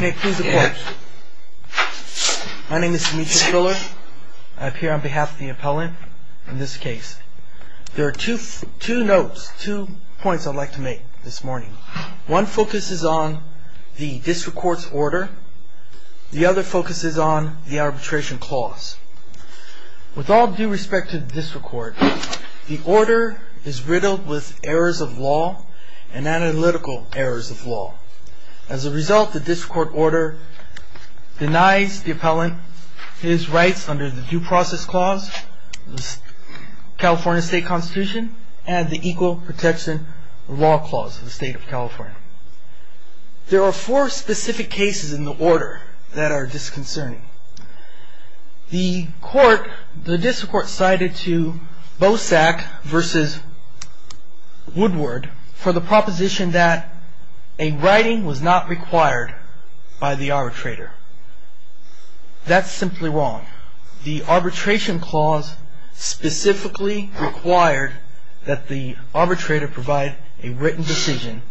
My name is Dimitrios Biller. I appear on behalf of the appellant in this case. There are two notes, two points I'd like to make this morning. One focuses on the district court's order. The other focuses on the arbitration clause. With all due respect to the district court, the order is riddled with errors of law and analytical errors of law. As a result, the district court order denies the appellant his rights under the Due Process Clause of the California State Constitution and the Equal Protection Law Clause of the State of California. There are four specific cases in the order that are disconcerting. The court, the district court cited to Bosak v. Woodward for the proposition that a writing was not required by the arbitrator. That's simply wrong. The arbitration clause specifically required that the arbitrator provide a written decision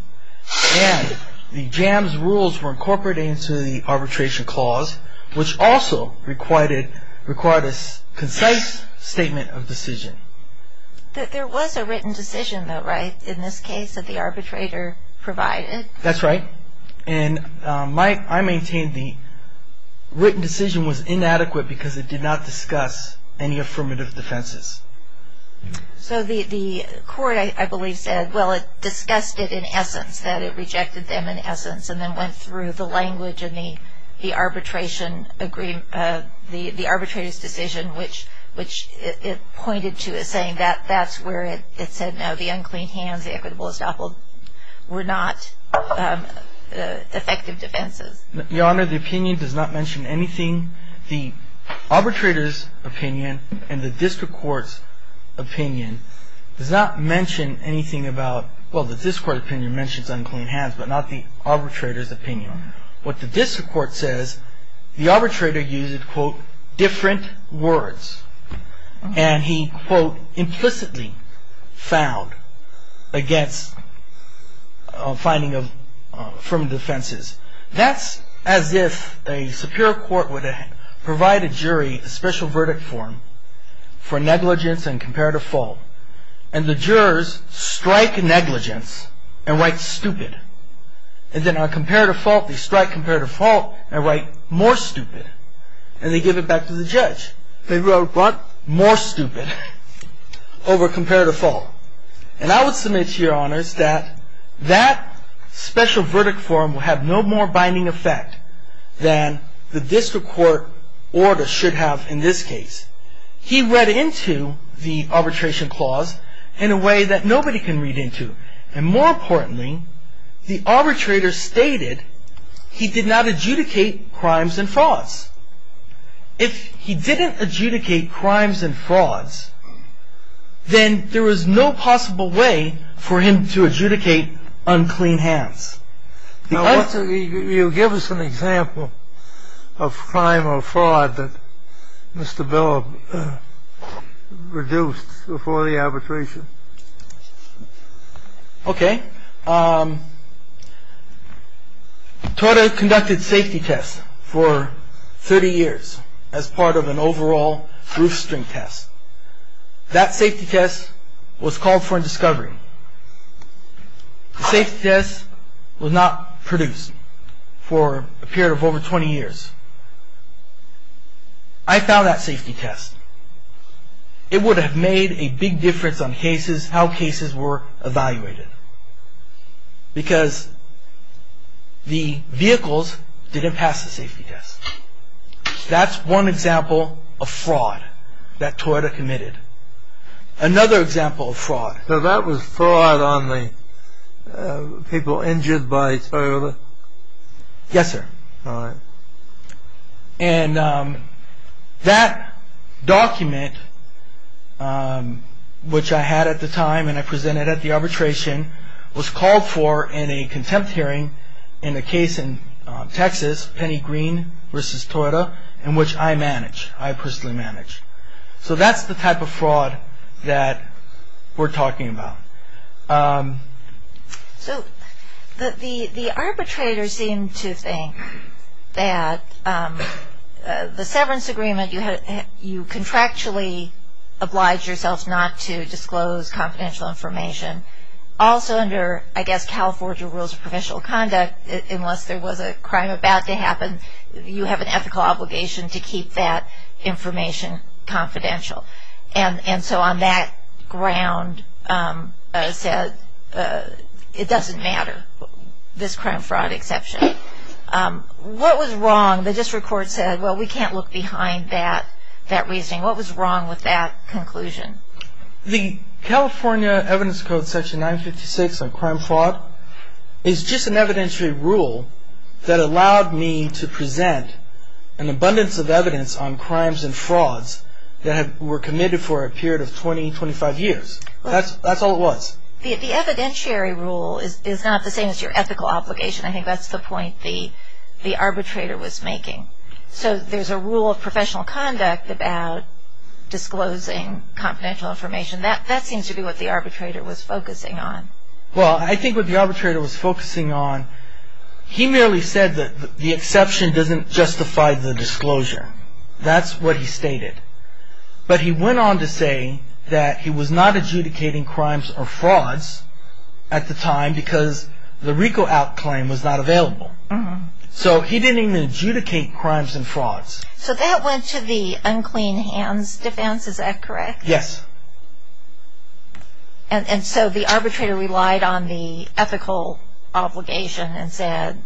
and the JAMS rules were incorporated into the arbitration clause, which also required a concise statement of decision. There was a written decision though, right, in this case that the arbitrator provided? That's right. And I maintain the written decision was inadequate because it did not discuss any affirmative defenses. So the court, I believe, said, well, it discussed it in essence, that it rejected them in essence and then went through the language and the arbitration agreement, the arbitrator's decision, which it pointed to as saying that that's where it said, no, the unclean hands, the equitable estoppel were not effective defenses. Your Honor, the opinion does not mention anything. The arbitrator's opinion and the district court's opinion does not mention anything about, well, the district court's opinion mentions unclean hands, but not the arbitrator's opinion. What the district court says, the arbitrator used, quote, different words. And he, quote, implicitly found against finding affirmative defenses. That's as if a superior court would provide a jury a special verdict form for negligence and comparative fault. And the jurors strike negligence and write stupid. And then on comparative fault, they strike comparative fault and write more stupid. And they give it back to the judge. They wrote more stupid over comparative fault. And I would submit to your honors that that special verdict form will have no more binding effect than the district court order should have in this case. He read into the arbitration clause in a way that nobody can read into. And more importantly, the arbitrator stated he did not adjudicate crimes and frauds. If he didn't adjudicate crimes and frauds, then there was no possible way for him to adjudicate unclean hands. Now, you give us an example of crime or fraud that Mr. Bill reduced before the arbitration. OK. Torter conducted safety tests for 30 years as part of an overall roof string test. That safety test was called for in discovery. The safety test was not produced for a period of over 20 years. I found that safety test. It would have made a big difference on cases, how cases were evaluated. Because the vehicles didn't pass the safety test. That's one example of fraud that Torter committed. Another example of fraud. So that was fraud on the people injured by Torter? Yes, sir. And that document, which I had at the time and I presented at the arbitration, was called for in a contempt hearing in a case in Texas, Penny Green v. Torter, in which I manage. I personally manage. So that's the type of fraud that we're talking about. So the arbitrator seemed to think that the severance agreement, you contractually obliged yourself not to disclose confidential information. Also under, I guess, California rules of provisional conduct, unless there was a crime about to happen, you have an ethical obligation to keep that information confidential. And so on that ground, it doesn't matter, this crime-fraud exception. What was wrong? The district court said, well, we can't look behind that reasoning. What was wrong with that conclusion? The California evidence code section 956 on crime-fraud is just an evidentiary rule that allowed me to present an abundance of evidence on crimes and frauds that were committed for a period of 20, 25 years. That's all it was. The evidentiary rule is not the same as your ethical obligation. I think that's the point the arbitrator was making. So there's a rule of professional conduct about disclosing confidential information. That seems to be what the arbitrator was focusing on. Well, I think what the arbitrator was focusing on, he merely said that the exception doesn't justify the disclosure. That's what he stated. But he went on to say that he was not adjudicating crimes or frauds at the time because the RICO out claim was not available. So he didn't even adjudicate crimes and frauds. So that went to the unclean hands defense. Is that correct? Yes. And so the arbitrator relied on the ethical obligation and said,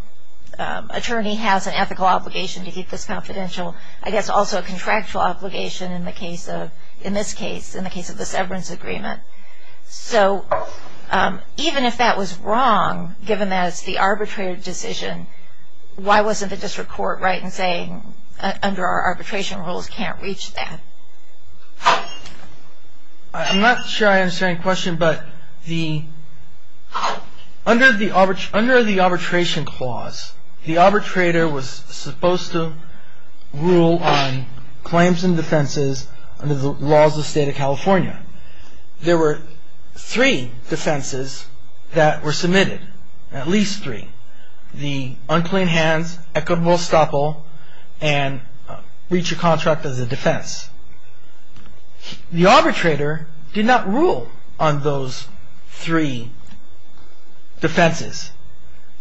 attorney has an ethical obligation to keep this confidential. I guess also a contractual obligation in this case, in the case of the severance agreement. So even if that was wrong, given that it's the arbitrator's decision, why wasn't the district court right in saying under our arbitration rules can't reach that? I'm not sure I understand your question, but under the arbitration clause, the arbitrator was supposed to rule on claims and defenses under the laws of the state of California. There were three defenses that were submitted, at least three. The unclean hands, equitable estoppel, and reach a contract as a defense. The arbitrator did not rule on those three defenses.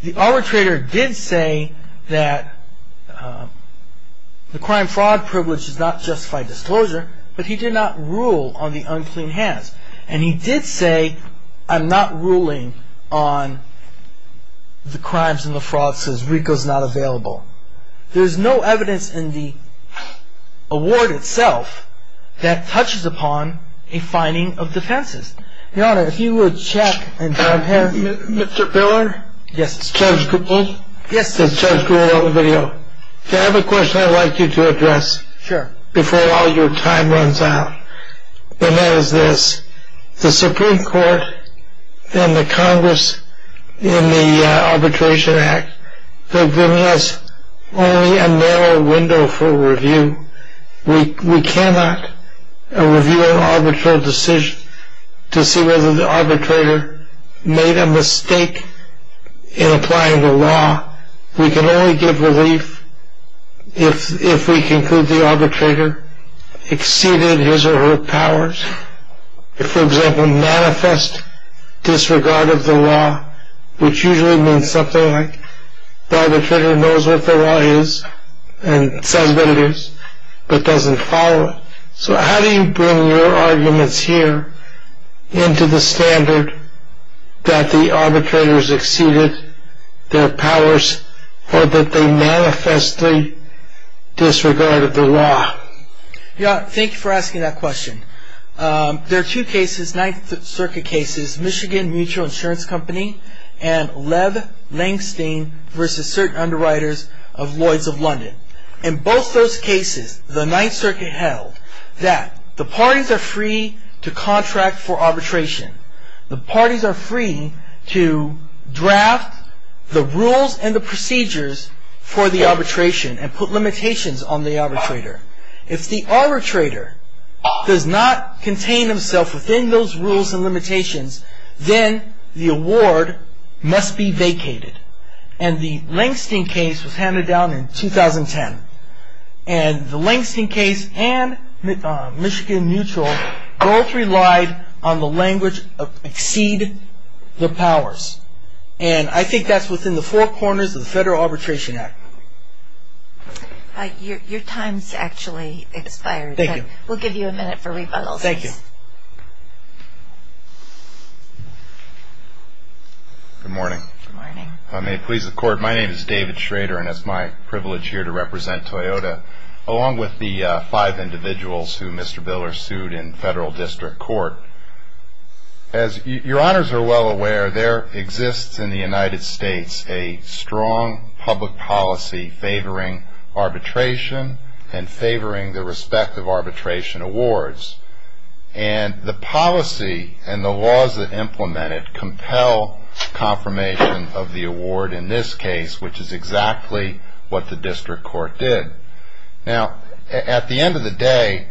The arbitrator did say that the crime fraud privilege does not justify disclosure, but he did not rule on the unclean hands. And he did say, I'm not ruling on the crimes and the frauds as RICO's not available. There's no evidence in the award itself that touches upon a finding of defenses. Your Honor, if you would check and compare. Mr. Piller? Yes. Judge Goodman? Yes. Judge Goodman on the video. Can I have a question I'd like you to address? Sure. Before all your time runs out, and that is this. The Supreme Court and the Congress in the Arbitration Act, they're giving us only a narrow window for review. We cannot review an arbitral decision to see whether the arbitrator made a mistake in applying the law. We can only give relief if we conclude the arbitrator exceeded his or her powers. For example, manifest disregard of the law, which usually means something like the arbitrator knows what the law is and says what it is, but doesn't follow it. So how do you bring your arguments here into the standard that the arbitrators exceeded their powers or that they manifestly disregarded the law? Your Honor, thank you for asking that question. There are two cases, Ninth Circuit cases, Michigan Mutual Insurance Company and Lev Langstein v. Certain Underwriters of Lloyd's of London. In both those cases, the Ninth Circuit held that the parties are free to contract for arbitration. The parties are free to draft the rules and the procedures for the arbitration and put limitations on the arbitrator. If the arbitrator does not contain himself within those rules and limitations, then the award must be vacated. The Langstein case was handed down in 2010. The Langstein case and Michigan Mutual both relied on the language of exceed the powers. I think that's within the four corners of the Federal Arbitration Act. Your time has actually expired. Thank you. We'll give you a minute for rebuttals. Thank you. Good morning. Good morning. If I may please the Court, my name is David Schrader and it's my privilege here to represent Toyota along with the five individuals who Mr. Biller sued in Federal District Court. As your Honors are well aware, there exists in the United States a strong public policy favoring arbitration and favoring the respective arbitration awards. And the policy and the laws that implement it compel confirmation of the award in this case, which is exactly what the District Court did. Now, at the end of the day,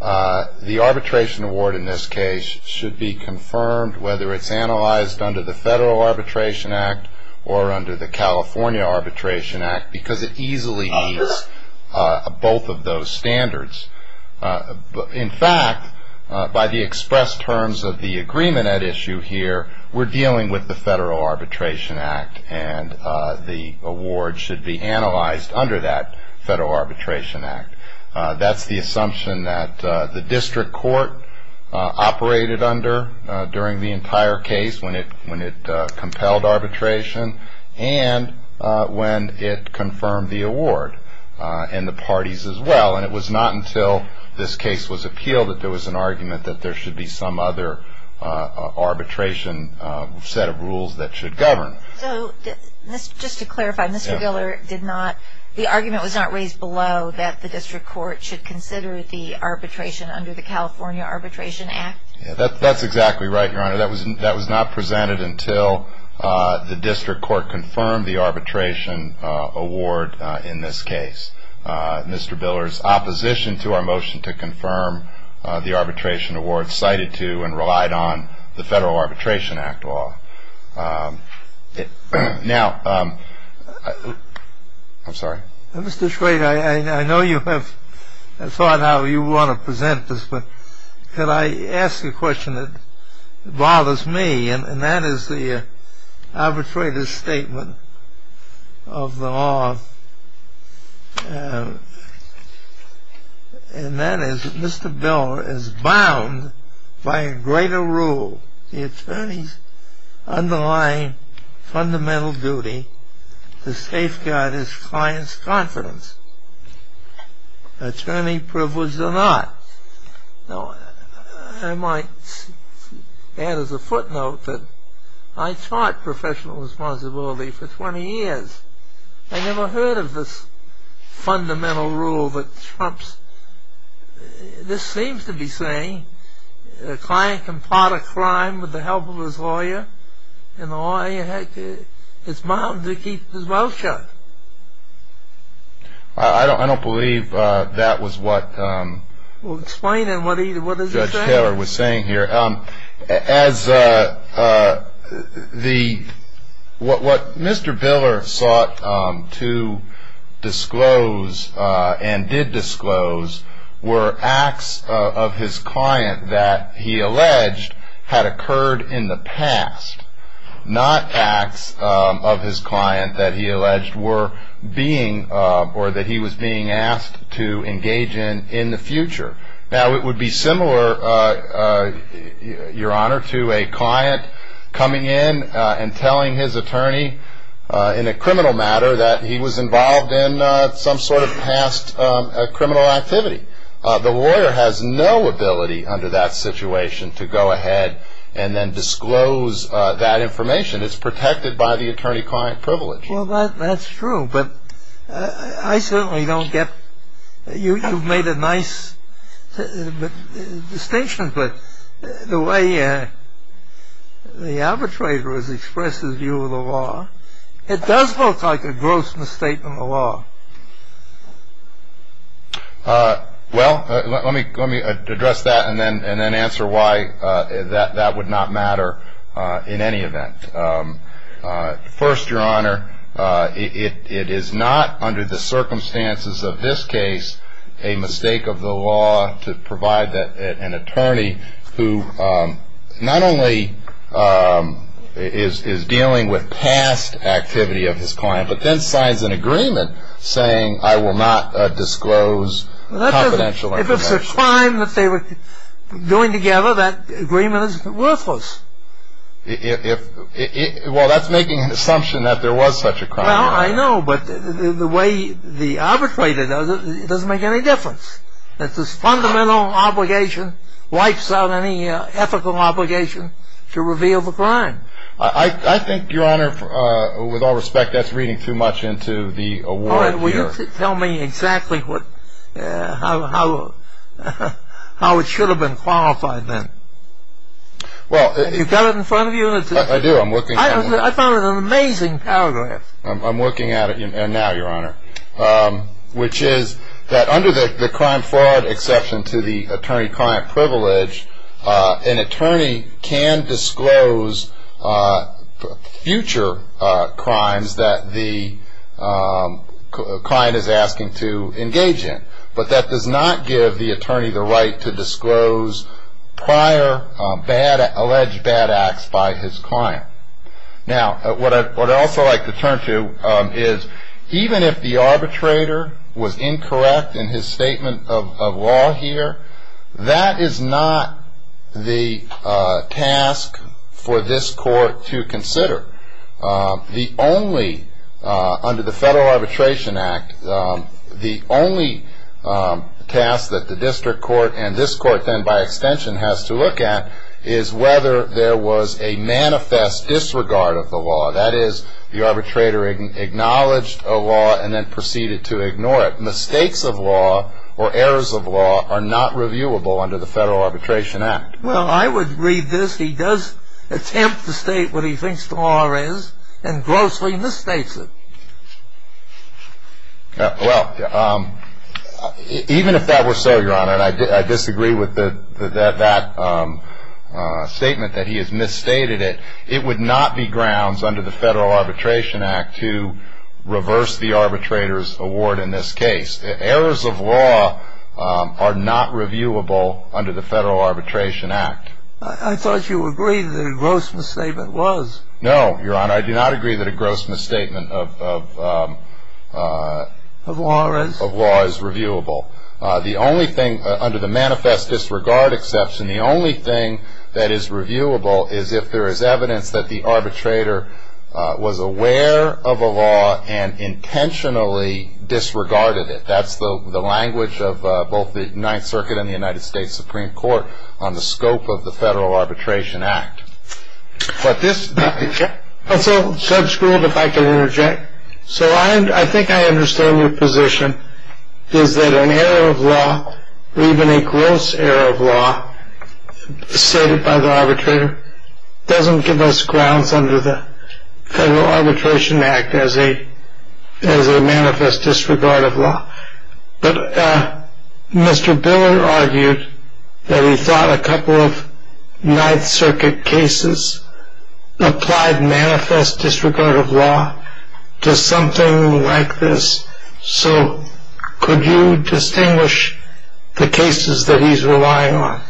the arbitration award in this case should be confirmed, whether it's analyzed under the Federal Arbitration Act or under the California Arbitration Act, because it easily meets both of those standards. In fact, by the express terms of the agreement at issue here, we're dealing with the Federal Arbitration Act and the award should be analyzed under that Federal Arbitration Act. That's the assumption that the District Court operated under during the entire case when it compelled arbitration and when it confirmed the award in the parties as well. And it was not until this case was appealed that there was an argument that there should be some other arbitration set of rules that should govern. So just to clarify, Mr. Biller did not – the argument was not raised below that the District Court should consider the arbitration under the California Arbitration Act? That's exactly right, Your Honor. That was not presented until the District Court confirmed the arbitration award in this case. Mr. Biller's opposition to our motion to confirm the arbitration award cited to and relied on the Federal Arbitration Act law. Now – I'm sorry. Mr. Schrader, I know you have thought how you want to present this, but could I ask you a question that bothers me, and that is the arbitrator's statement of the law, and that is that Mr. Biller is bound by a greater rule, the attorney's underlying fundamental duty to safeguard his client's confidence, attorney privilege or not. I might add as a footnote that I taught professional responsibility for 20 years. I never heard of this fundamental rule that trumps – this seems to be saying the client can pot a crime with the help of his lawyer, and the lawyer is bound to keep his mouth shut. I don't believe that was what Judge Taylor was saying here. As the – what Mr. Biller sought to disclose and did disclose were acts of his client that he alleged had occurred in the past, not acts of his client that he alleged were being – or that he was being asked to engage in in the future. Now, it would be similar, Your Honor, to a client coming in and telling his attorney in a criminal matter that he was involved in some sort of past criminal activity. The lawyer has no ability under that situation to go ahead and then disclose that information. It's protected by the attorney-client privilege. Well, that's true, but I certainly don't get – you've made a nice distinction, but the way the arbitrator has expressed his view of the law, it does look like a gross mistake in the law. Well, let me address that and then answer why that would not matter in any event. First, Your Honor, it is not under the circumstances of this case a mistake of the law to provide an attorney who not only is dealing with past activity of his client, but then signs an agreement saying, I will not disclose confidential information. If it's a crime that they were doing together, that agreement is worthless. Well, that's making an assumption that there was such a crime. Well, I know, but the way the arbitrator does it, it doesn't make any difference. It's his fundamental obligation, wipes out any ethical obligation to reveal the crime. I think, Your Honor, with all respect, that's reading too much into the award here. All right, well, you tell me exactly how it should have been qualified then. You've got it in front of you? I do, I'm looking at it. I found it an amazing paragraph. I'm looking at it now, Your Honor, which is that under the crime-fraud exception to the attorney-client privilege, an attorney can disclose future crimes that the client is asking to engage in, but that does not give the attorney the right to disclose prior alleged bad acts by his client. Now, what I'd also like to turn to is even if the arbitrator was incorrect in his statement of law here, that is not the task for this court to consider. The only, under the Federal Arbitration Act, the only task that the district court and this court then by extension has to look at is whether there was a manifest disregard of the law. That is, the arbitrator acknowledged a law and then proceeded to ignore it. Mistakes of law or errors of law are not reviewable under the Federal Arbitration Act. Well, I would read this. He does attempt to state what he thinks the law is and grossly mistakes it. Well, even if that were so, Your Honor, and I disagree with that statement that he has misstated it, it would not be grounds under the Federal Arbitration Act to reverse the arbitrator's award in this case. Errors of law are not reviewable under the Federal Arbitration Act. I thought you agreed that a gross misstatement was. No, Your Honor, I do not agree that a gross misstatement of law is reviewable. The only thing, under the manifest disregard exception, the only thing that is reviewable is if there is evidence that the arbitrator was aware of a law and intentionally disregarded it. That's the language of both the Ninth Circuit and the United States Supreme Court on the scope of the Federal Arbitration Act. But this is also sub-schooled, if I can interject. So I think I understand your position is that an error of law or even a gross error of law stated by the arbitrator doesn't give us grounds under the Federal Arbitration Act as a as a manifest disregard of law. But Mr. Biller argued that he thought a couple of Ninth Circuit cases applied manifest disregard of law to something like this. So could you distinguish the cases that he's relying on?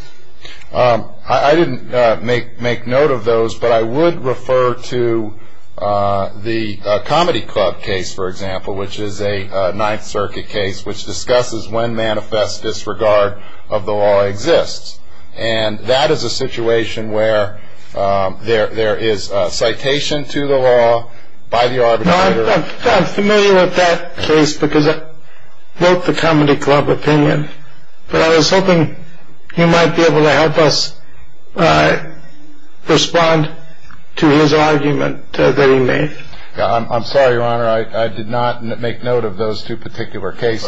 I didn't make note of those, but I would refer to the Comedy Club case, for example, which is a Ninth Circuit case which discusses when manifest disregard of the law exists. And that is a situation where there is citation to the law by the arbitrator. I'm familiar with that case because I wrote the Comedy Club opinion, but I was hoping you might be able to help us respond to his argument that he made. I'm sorry, Your Honor, I did not make note of those two particular cases.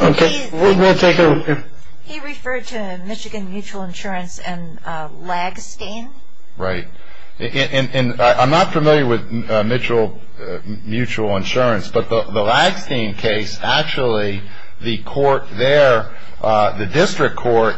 He referred to Michigan Mutual Insurance and Lagstein. Right. And I'm not familiar with Mitchell Mutual Insurance, but the Lagstein case, actually the court there, the district court,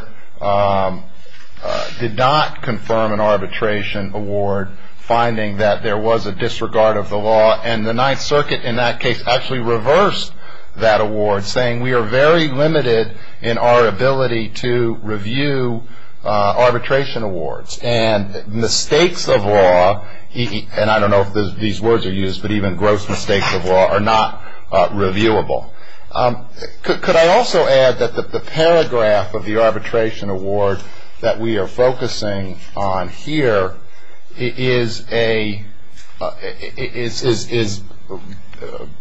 did not confirm an arbitration award finding that there was a disregard of the law. And the Ninth Circuit in that case actually reversed that award, saying we are very limited in our ability to review arbitration awards. And mistakes of law, and I don't know if these words are used, but even gross mistakes of law are not reviewable. Could I also add that the paragraph of the arbitration award that we are focusing on here is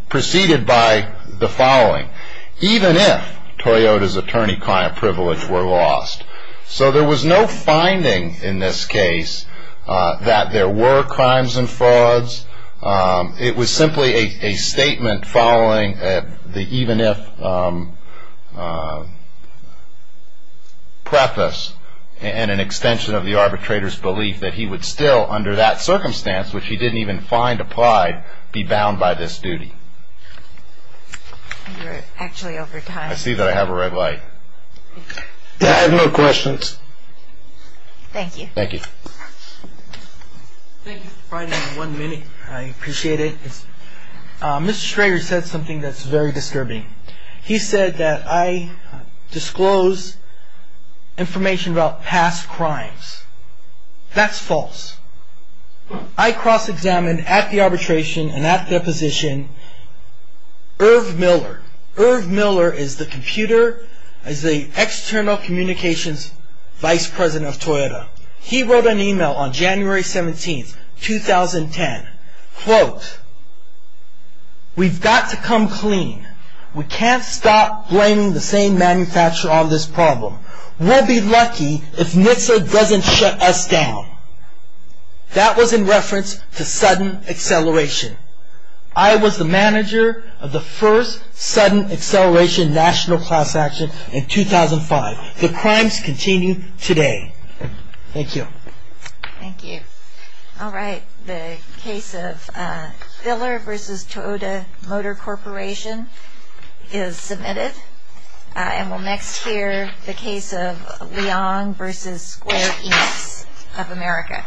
preceded by the following. Even if Toyota's attorney-client privilege were lost. So there was no finding in this case that there were crimes and frauds. It was simply a statement following the even if preface and an extension of the arbitrator's belief that he would still, under that circumstance, which he didn't even find applied, be bound by this duty. You're actually over time. I see that I have a red light. I have no questions. Thank you. Thank you. Thank you for providing one minute. I appreciate it. Mr. Schroeder said something that's very disturbing. He said that I disclose information about past crimes. That's false. I cross-examined at the arbitration and at the deposition Irv Miller. Irv Miller is the computer, is the external communications vice president of Toyota. He wrote an e-mail on January 17th, 2010. Quote, we've got to come clean. We can't stop blaming the same manufacturer on this problem. We'll be lucky if NHTSA doesn't shut us down. That was in reference to sudden acceleration. I was the manager of the first sudden acceleration national class action in 2005. The crimes continue today. Thank you. Thank you. All right. The case of Miller v. Toyota Motor Corporation is submitted. And we'll next hear the case of Leong v. Square Enix of America.